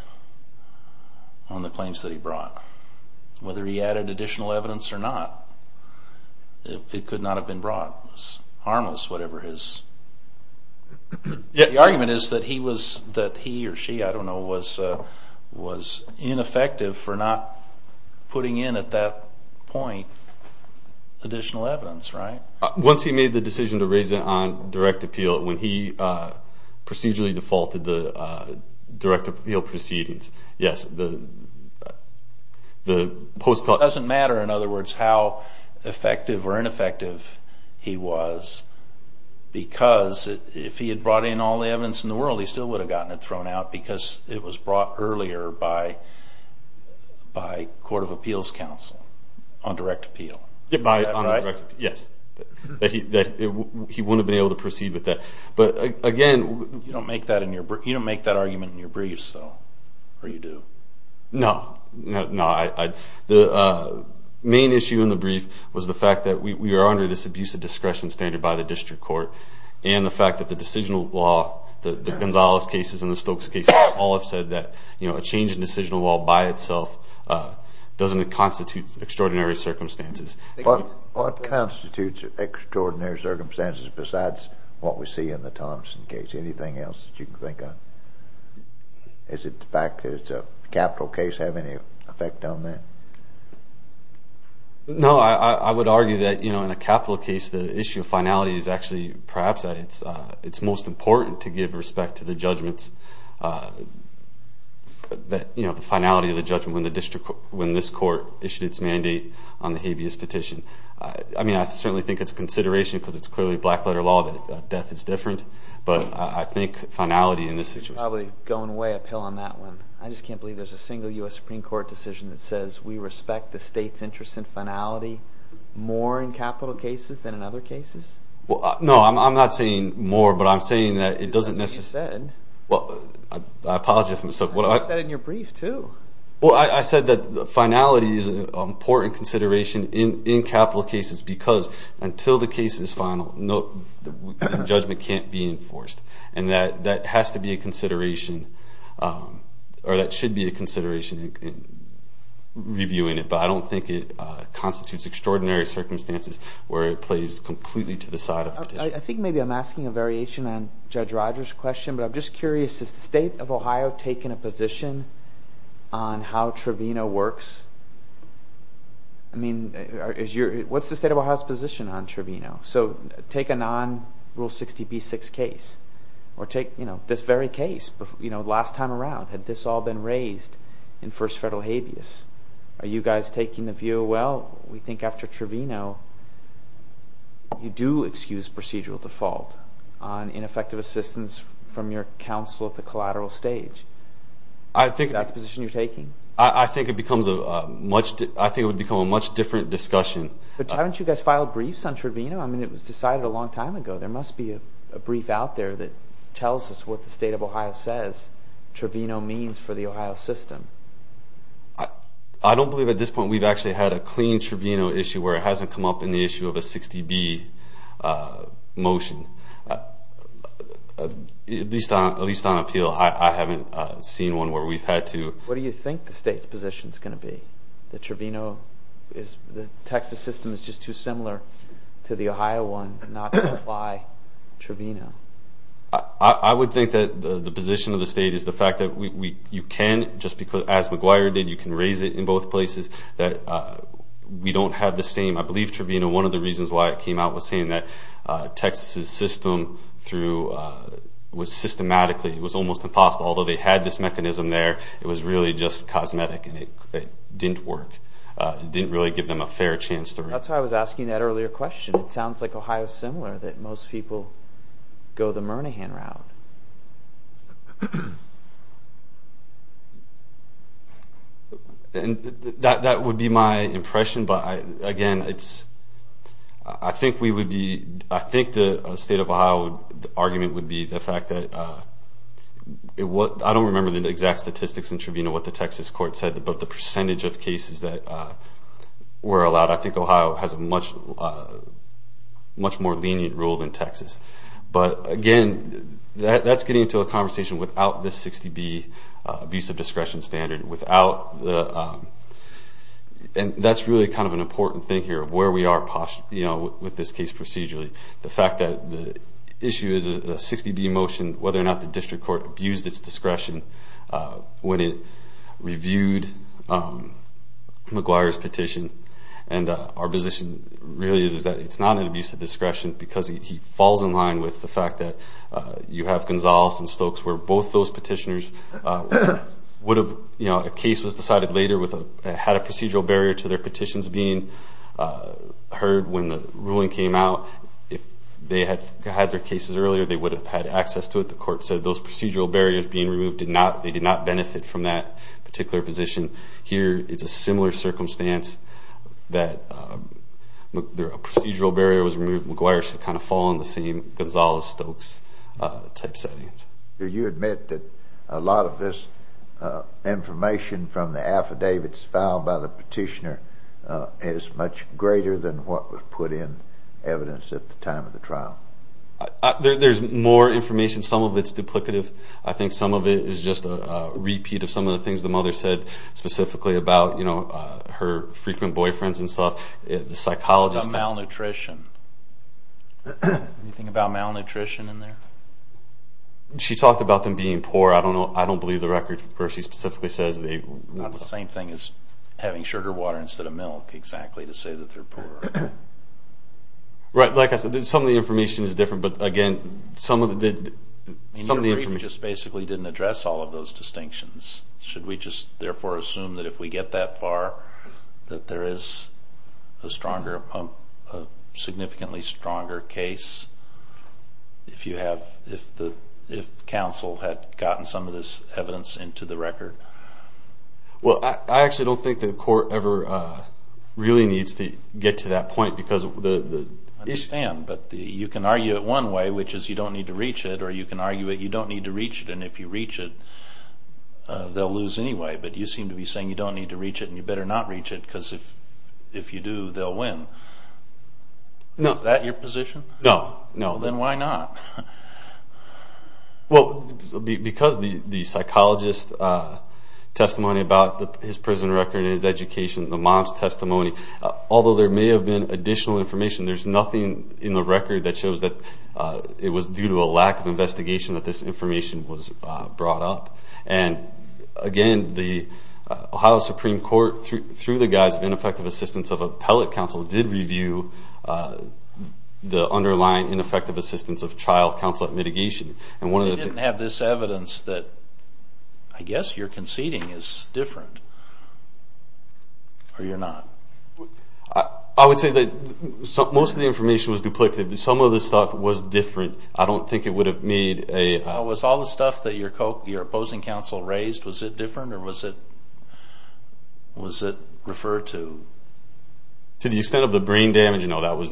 on the claims that he brought. Whether he added additional evidence or not, it could not have been brought. It was harmless, whatever his... The argument is that he or she, I don't know, was ineffective for not putting in at that point additional evidence, right? Once he made the decision to raise it on direct appeal, when he procedurally defaulted the direct appeal proceedings, yes, the post-conviction... It doesn't matter, in other words, how effective or ineffective he was because if he had brought in all the evidence in the world, he still would have gotten it thrown out because it was brought earlier by court of appeals counsel on direct appeal. Yes, that he wouldn't have been able to proceed with that. But again... You don't make that argument in your briefs, though, or you do? No, no. The main issue in the brief was the fact that we are under this abusive discretion standard by the district court and the fact that the decisional law, the Gonzalez cases and the Stokes cases all have said that a change in decisional law by itself doesn't constitute extraordinary circumstances. What constitutes extraordinary circumstances besides what we see in the Thompson case? Anything else that you can think of? Does the fact that it's a capital case have any effect on that? No. I would argue that in a capital case, the issue of finality is actually perhaps that it's most important to give respect to the judgments, the finality of the judgment when this court issued its mandate on the habeas petition. I mean, I certainly think it's consideration because it's clearly black-letter law that death is different, but I think finality in this situation... You're probably going way uphill on that one. I just can't believe there's a single U.S. Supreme Court decision that says we respect the state's interest in finality more in capital cases than in other cases. No, I'm not saying more, but I'm saying that it doesn't necessarily... I apologize for myself. You said it in your brief, too. Well, I said that finality is an important consideration in capital cases because until the case is final, the judgment can't be enforced, and that has to be a consideration, or that should be a consideration in reviewing it, but I don't think it constitutes extraordinary circumstances where it plays completely to the side of the petition. I think maybe I'm asking a variation on Judge Rogers' question, but I'm just curious, is the state of Ohio taking a position on how Trevino works? I mean, what's the state of Ohio's position on Trevino? So take a non-Rule 60b-6 case, or take this very case. Last time around, had this all been raised in first federal habeas? Are you guys taking the view, well, we think after Trevino, you do excuse procedural default on ineffective assistance from your counsel at the collateral stage? Is that the position you're taking? I think it would become a much different discussion. But haven't you guys filed briefs on Trevino? I mean, it was decided a long time ago. There must be a brief out there that tells us what the state of Ohio says Trevino means for the Ohio system. I don't believe at this point we've actually had a clean Trevino issue where it hasn't come up in the issue of a 60b motion, at least on appeal. I haven't seen one where we've had to. What do you think the state's position is going to be? The Trevino is the Texas system is just too similar to the Ohio one, not to apply Trevino. I would think that the position of the state is the fact that you can, just as McGuire did, you can raise it in both places. We don't have the same. I believe Trevino, one of the reasons why it came out, was saying that Texas' system was systematically, it was almost impossible. Although they had this mechanism there, it was really just cosmetic and it didn't work. It didn't really give them a fair chance. That's why I was asking that earlier question. It sounds like Ohio is similar, that most people go the Murnaghan route. That would be my impression. Again, I think the state of Ohio argument would be the fact that, I don't remember the exact statistics in Trevino, what the Texas court said, but the percentage of cases that were allowed. I think Ohio has a much more lenient rule than Texas. Again, that's getting into a conversation without this 60B, abuse of discretion standard. That's really kind of an important thing here of where we are with this case procedurally. The fact that the issue is a 60B motion, whether or not the district court abused its discretion when it reviewed McGuire's petition. Our position really is that it's not an abuse of discretion because he falls in line with the fact that you have Gonzales and Stokes where both those petitioners would have, a case was decided later, had a procedural barrier to their petitions being heard when the ruling came out. If they had had their cases earlier, they would have had access to it. The court said those procedural barriers being removed, they did not benefit from that particular position. Here, it's a similar circumstance that a procedural barrier was removed, McGuire should kind of fall in the same Gonzales, Stokes type settings. Do you admit that a lot of this information from the affidavits filed by the petitioner is much greater than what was put in evidence at the time of the trial? There's more information. Some of it's duplicative. I think some of it is just a repeat of some of the things the mother said specifically about her frequent boyfriends and stuff. What about malnutrition? Anything about malnutrition in there? She talked about them being poor. I don't believe the record where she specifically says they... It's not the same thing as having sugar water instead of milk, exactly, to say that they're poor. Like I said, some of the information is different, but again, some of the information... Your brief just basically didn't address all of those distinctions. Should we just therefore assume that if we get that far, that there is a significantly stronger case if counsel had gotten some of this evidence into the record? I actually don't think the court ever really needs to get to that point because... I understand, but you can argue it one way, which is you don't need to reach it, or you can argue that you don't need to reach it and if you reach it, they'll lose anyway, but you seem to be saying you don't need to reach it and you better not reach it because if you do, they'll win. Is that your position? No. Then why not? Well, because the psychologist's testimony about his prison record and his education, the mom's testimony, although there may have been additional information, there's nothing in the record that shows that it was due to a lack of investigation that this information was brought up, and again, the Ohio Supreme Court, through the guise of ineffective assistance of appellate counsel, did review the underlying ineffective assistance of trial counsel at mitigation. They didn't have this evidence that I guess you're conceding is different, or you're not. I would say that most of the information was duplicated. Some of the stuff was different. I don't think it would have made a... Was all the stuff that your opposing counsel raised, was it different or was it referred to? To the extent of the brain damage, no, that was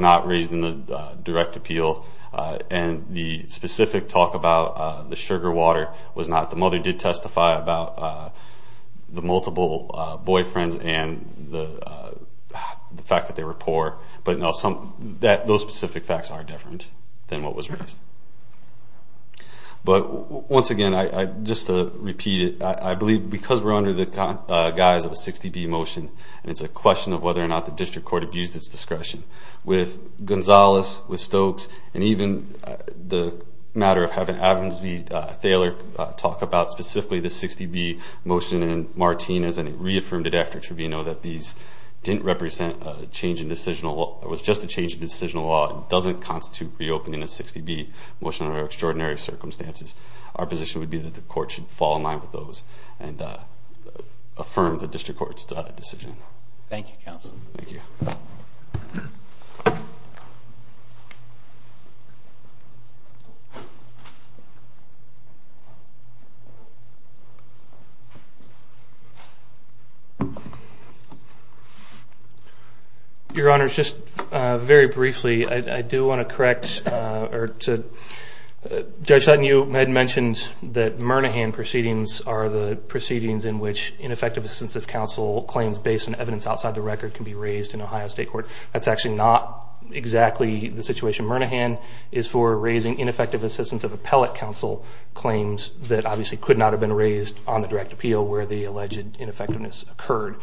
not raised in the direct appeal, and the specific talk about the sugar water was not. The mother did testify about the multiple boyfriends and the fact that they were poor, but no, those specific facts are different than what was raised. But once again, just to repeat it, I believe because we're under the guise of a 60B motion, and it's a question of whether or not the district court abused its discretion, with Gonzales, with Stokes, and even the matter of having Avensby-Thaler talk about specifically the 60B motion in Martinez, and he reaffirmed it after tribunal that these didn't represent a change in decisional law, it was just a change in decisional law, it doesn't constitute reopening a 60B motion under extraordinary circumstances. Our position would be that the court should fall in line with those and affirm the district court's decision. Thank you, counsel. Thank you. Your Honor, just very briefly, I do want to correct or to judge Sutton, you had mentioned that Murnahan proceedings are the proceedings in which ineffective extensive counsel claims based on evidence outside the record can be raised in Ohio State Court. That's actually not exactly the situation. Murnahan is for raising ineffective assistance of appellate counsel claims that obviously could not have been raised on the direct appeal where the alleged ineffectiveness occurred.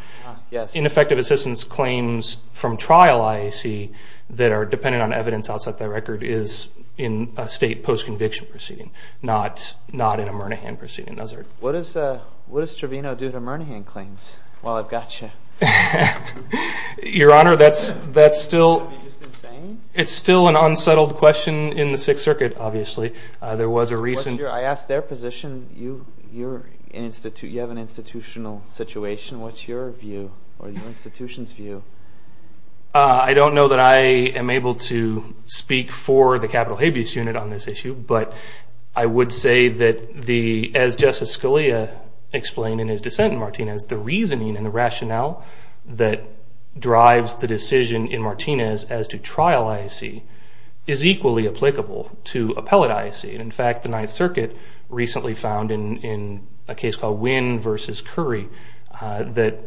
Ineffective assistance claims from trial IAC that are dependent on evidence outside the record is in a state postconviction proceeding, not in a Murnahan proceeding. What does Trevino do to Murnahan claims while I've got you? Your Honor, that's still an unsettled question in the Sixth Circuit, obviously. I asked their position. You have an institutional situation. What's your view or your institution's view? I don't know that I am able to speak for the Capitol Habeas Unit on this issue, but I would say that as Justice Scalia explained in his dissent in Martinez, the reasoning and the rationale that drives the decision in Martinez as to trial IAC is equally applicable to appellate IAC. In fact, the Ninth Circuit recently found in a case called Winn v. Curry that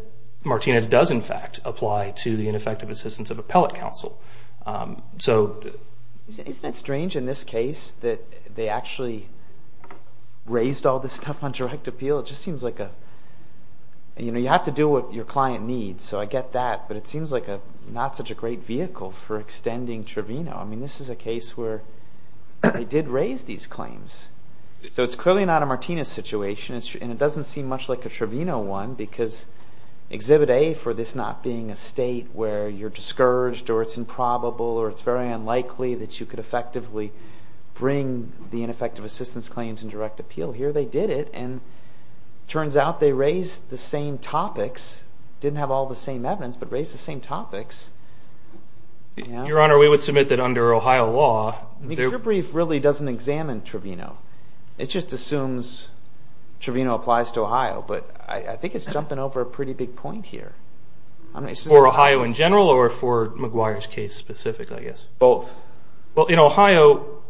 Martinez does in fact apply to the ineffective assistance of appellate counsel. Isn't it strange in this case that they actually raised all this stuff on direct appeal? It just seems like you have to do what your client needs, so I get that, but it seems like not such a great vehicle for extending Trevino. This is a case where they did raise these claims. So it's clearly not a Martinez situation, and it doesn't seem much like a Trevino one because Exhibit A for this not being a state where you're discouraged or it's improbable or it's very unlikely that you could effectively bring the ineffective assistance claims on direct appeal here. They did it, and it turns out they raised the same topics, didn't have all the same evidence, but raised the same topics. Your Honor, we would submit that under Ohio law. The court brief really doesn't examine Trevino. It just assumes Trevino applies to Ohio, but I think it's jumping over a pretty big point here. For Ohio in general or for McGuire's case specifically? Both. Well, in Ohio,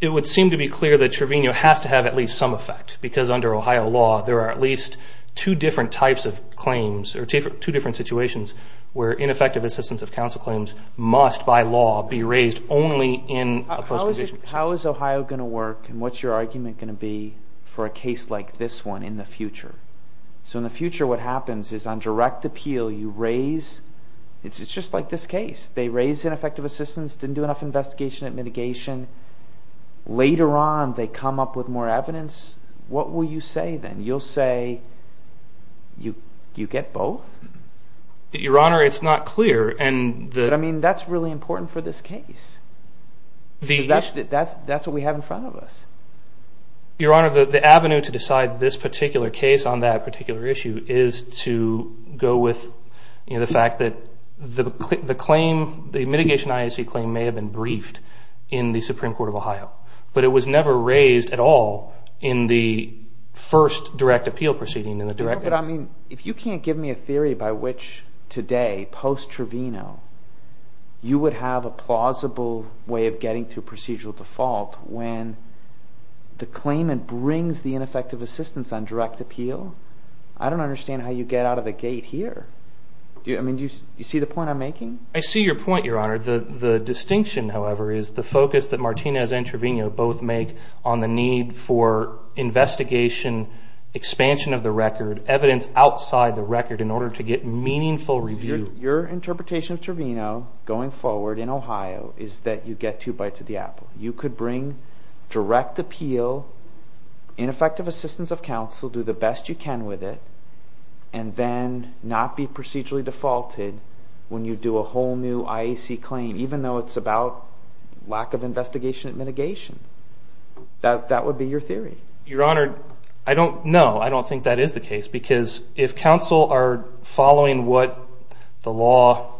it would seem to be clear that Trevino has to have at least some effect because under Ohio law there are at least two different types of claims or two different situations where ineffective assistance of counsel claims must by law be raised only in a post-conviction case. How is Ohio going to work, and what's your argument going to be for a case like this one in the future? So in the future what happens is on direct appeal you raise, it's just like this case. They raise ineffective assistance, didn't do enough investigation and mitigation. Later on they come up with more evidence. What will you say then? You'll say you get both? Your Honor, it's not clear. But, I mean, that's really important for this case. That's what we have in front of us. Your Honor, the avenue to decide this particular case on that particular issue is to go with the fact that the claim, the mitigation IAC claim, may have been briefed in the Supreme Court of Ohio, but it was never raised at all in the first direct appeal proceeding. But, I mean, if you can't give me a theory by which today, post-Trevino, you would have a plausible way of getting through procedural default when the claimant brings the ineffective assistance on direct appeal, I don't understand how you get out of the gate here. Do you see the point I'm making? I see your point, Your Honor. The distinction, however, is the focus that Martinez and Trevino both make on the need for investigation, expansion of the record, evidence outside the record in order to get meaningful review. Your interpretation of Trevino going forward in Ohio is that you get two bites of the apple. You could bring direct appeal, ineffective assistance of counsel, do the best you can with it, and then not be procedurally defaulted when you do a whole new IAC claim, even though it's about lack of investigation and mitigation. That would be your theory. Your Honor, I don't know. I don't think that is the case because if counsel are following what the law,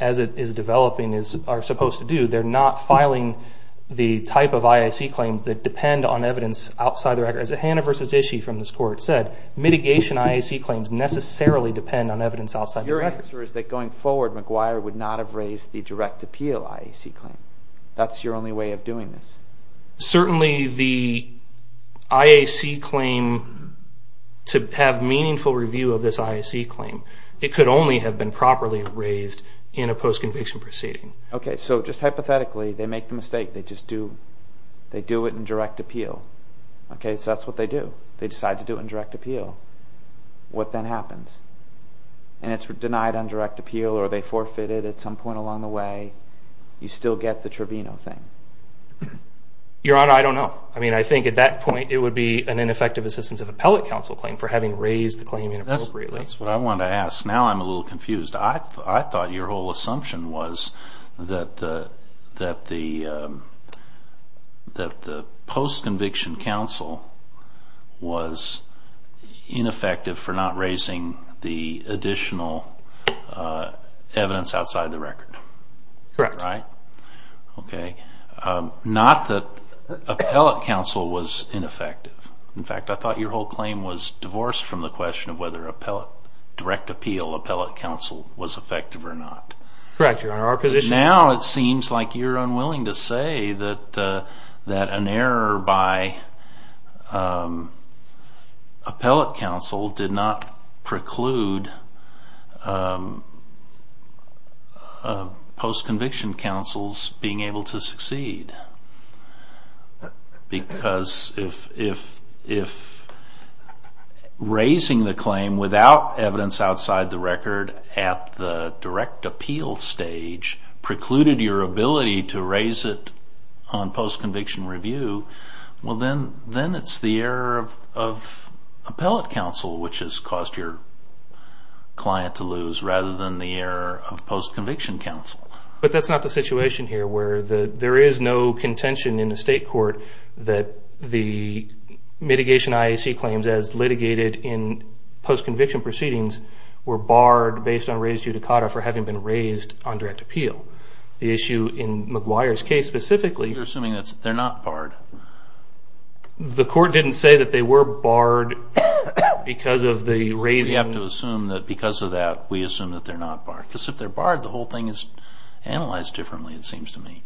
as it is developing, are supposed to do, they're not filing the type of IAC claims that depend on evidence outside the record. As Hannah versus Ishii from this court said, mitigation IAC claims necessarily depend on evidence outside the record. Your answer is that going forward, McGuire would not have raised the direct appeal IAC claim. That's your only way of doing this. Certainly the IAC claim, to have meaningful review of this IAC claim, it could only have been properly raised in a post-conviction proceeding. Okay, so just hypothetically, they make the mistake. They do it in direct appeal. Okay, so that's what they do. They decide to do it in direct appeal. What then happens? And it's denied on direct appeal or they forfeit it at some point along the way. You still get the Trevino thing. Your Honor, I don't know. I mean, I think at that point, it would be an ineffective assistance of appellate counsel claim for having raised the claim inappropriately. That's what I wanted to ask. Now I'm a little confused. I thought your whole assumption was that the post-conviction counsel was ineffective for not raising the additional evidence outside the record. Correct. Right? Okay. Not that appellate counsel was ineffective. In fact, I thought your whole claim was divorced from the question of whether direct appeal appellate counsel was effective or not. Correct, Your Honor. Our position is... Now it seems like you're unwilling to say that an error by appellate counsel did not preclude post-conviction counsels being able to succeed. Because if raising the claim without evidence outside the record at the direct appeal stage precluded your ability to raise it on post-conviction review, well then it's the error of appellate counsel which has caused your client to lose rather than the error of post-conviction counsel. But that's not the situation here where there is no contention in the state court that the mitigation IAC claims as litigated in post-conviction proceedings were barred based on raised judicata for having been raised on direct appeal. The issue in McGuire's case specifically... You're assuming that they're not barred. The court didn't say that they were barred because of the raising... You have to assume that because of that we assume that they're not barred. Because if they're barred, the whole thing is analyzed differently, it seems to me.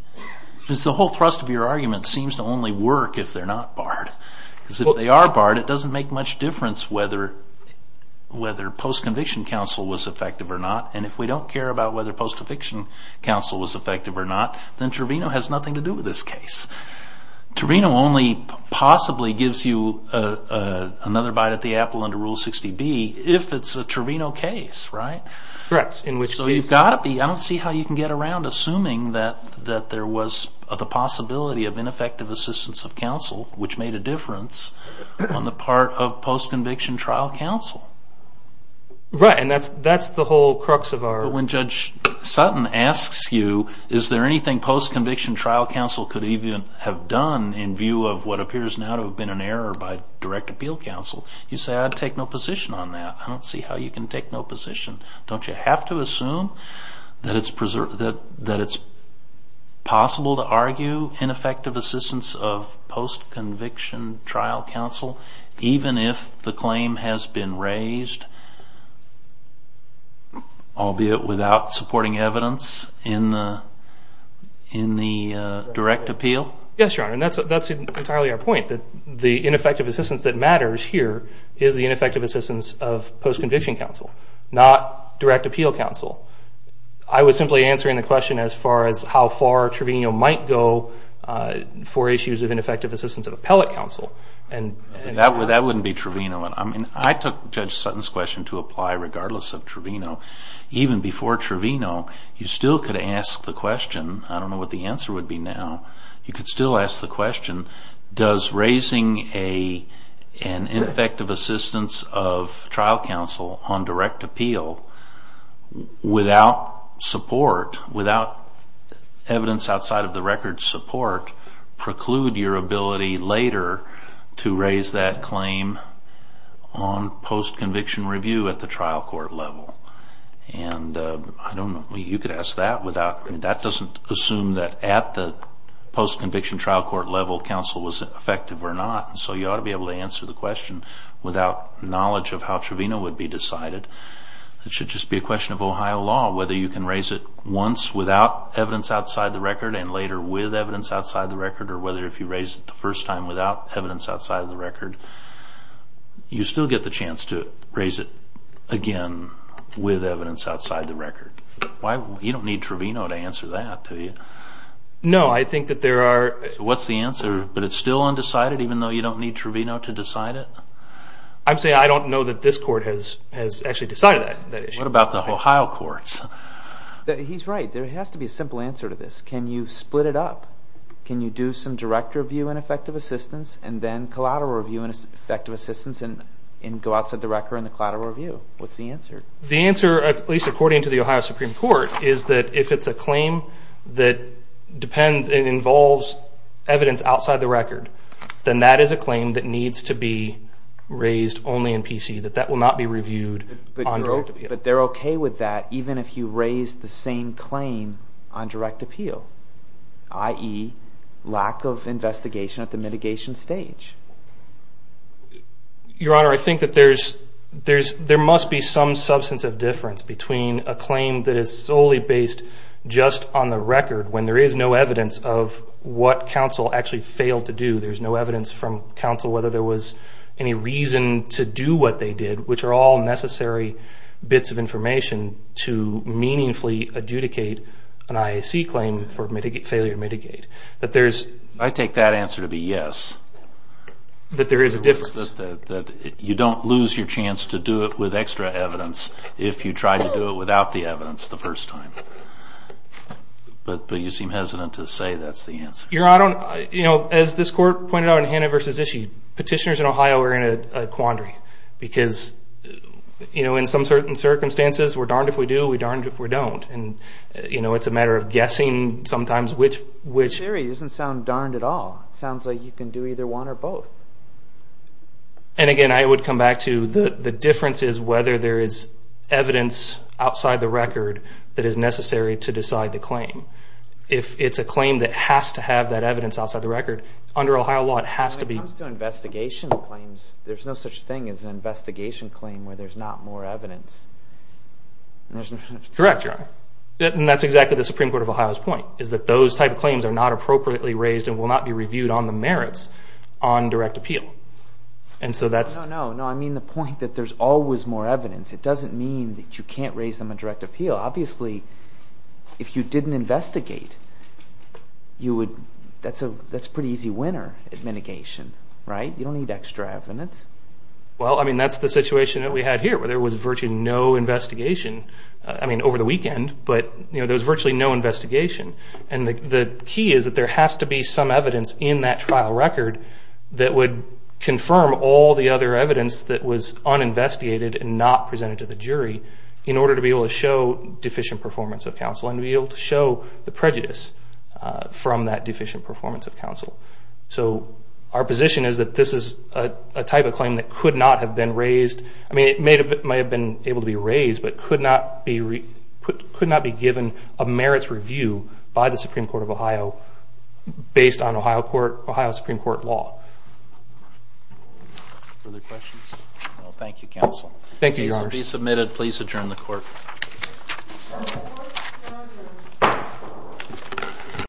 Because the whole thrust of your argument seems to only work if they're not barred. Because if they are barred, it doesn't make much difference whether post-conviction counsel was effective or not. And if we don't care about whether post-conviction counsel was effective or not, then Trevino has nothing to do with this case. Trevino only possibly gives you another bite at the apple under Rule 60B if it's a Trevino case, right? Correct. So you've got to be... I don't see how you can get around assuming that there was the possibility of ineffective assistance of counsel which made a difference on the part of post-conviction trial counsel. Right, and that's the whole crux of our... When Judge Sutton asks you, is there anything post-conviction trial counsel could even have done in view of what appears now to have been an error by direct appeal counsel, you say, I'd take no position on that. I don't see how you can take no position. Don't you have to assume that it's possible to argue ineffective assistance of post-conviction trial counsel even if the claim has been raised, albeit without supporting evidence in the direct appeal? Yes, Your Honor, and that's entirely our point, that the ineffective assistance that matters here is the ineffective assistance of post-conviction counsel, not direct appeal counsel. I was simply answering the question as far as how far Trevino might go for issues of ineffective assistance of appellate counsel. That wouldn't be Trevino. I took Judge Sutton's question to apply regardless of Trevino. Even before Trevino, you still could ask the question, you could still ask the question, does raising an ineffective assistance of trial counsel on direct appeal without support, without evidence outside of the record support, preclude your ability later to raise that claim on post-conviction review at the trial court level? I don't know. You could ask that. That doesn't assume that at the post-conviction trial court level, appellate counsel was effective or not, so you ought to be able to answer the question without knowledge of how Trevino would be decided. It should just be a question of Ohio law, whether you can raise it once without evidence outside the record and later with evidence outside the record, or whether if you raise it the first time without evidence outside of the record, you still get the chance to raise it again with evidence outside the record. You don't need Trevino to answer that, do you? No, I think that there are... What's the answer? But it's still undecided, even though you don't need Trevino to decide it? I'm saying I don't know that this court has actually decided that issue. What about the Ohio courts? He's right. There has to be a simple answer to this. Can you split it up? Can you do some direct review and effective assistance and then collateral review and effective assistance and go outside the record in the collateral review? What's the answer? The answer, at least according to the Ohio Supreme Court, is that if it's a claim that involves evidence outside the record, then that is a claim that needs to be raised only in PC, that that will not be reviewed on direct appeal. But they're okay with that even if you raise the same claim on direct appeal, i.e. lack of investigation at the mitigation stage. between a claim that is solely based just on the record when there is no evidence of what counsel actually failed to do. There's no evidence from counsel whether there was any reason to do what they did, which are all necessary bits of information to meaningfully adjudicate an IAC claim for failure to mitigate. I take that answer to be yes. That there is a difference. You don't lose your chance to do it with extra evidence if you try to do it without the evidence the first time. But you seem hesitant to say that's the answer. As this court pointed out in Hannah v. Ishii, petitioners in Ohio are in a quandary because in some certain circumstances, we're darned if we do, we're darned if we don't. It's a matter of guessing sometimes which... That theory doesn't sound darned at all. It sounds like you can do either one or both. And again, I would come back to the difference is whether there is evidence outside the record that is necessary to decide the claim. If it's a claim that has to have that evidence outside the record, under Ohio law it has to be... When it comes to investigation claims, there's no such thing as an investigation claim where there's not more evidence. Correct, Your Honor. And that's exactly the Supreme Court of Ohio's point is that those type of claims are not appropriately raised and will not be reviewed on the merits on direct appeal. No, I mean the point that there's always more evidence. It doesn't mean that you can't raise them on direct appeal. Obviously, if you didn't investigate, that's a pretty easy winner at mitigation. You don't need extra evidence. Well, that's the situation that we had here where there was virtually no investigation over the weekend, but there was virtually no investigation. And the key is that there has to be some evidence in that trial record that would confirm all the other evidence that was uninvestigated and not presented to the jury in order to be able to show deficient performance of counsel and to be able to show the prejudice from that deficient performance of counsel. So our position is that this is a type of claim that could not have been raised. I mean it may have been able to be raised, but could not be given a merits review by the Supreme Court of Ohio based on Ohio Supreme Court law. Other questions? No, thank you, counsel. Thank you, Your Honors. This will be submitted. Please adjourn the court.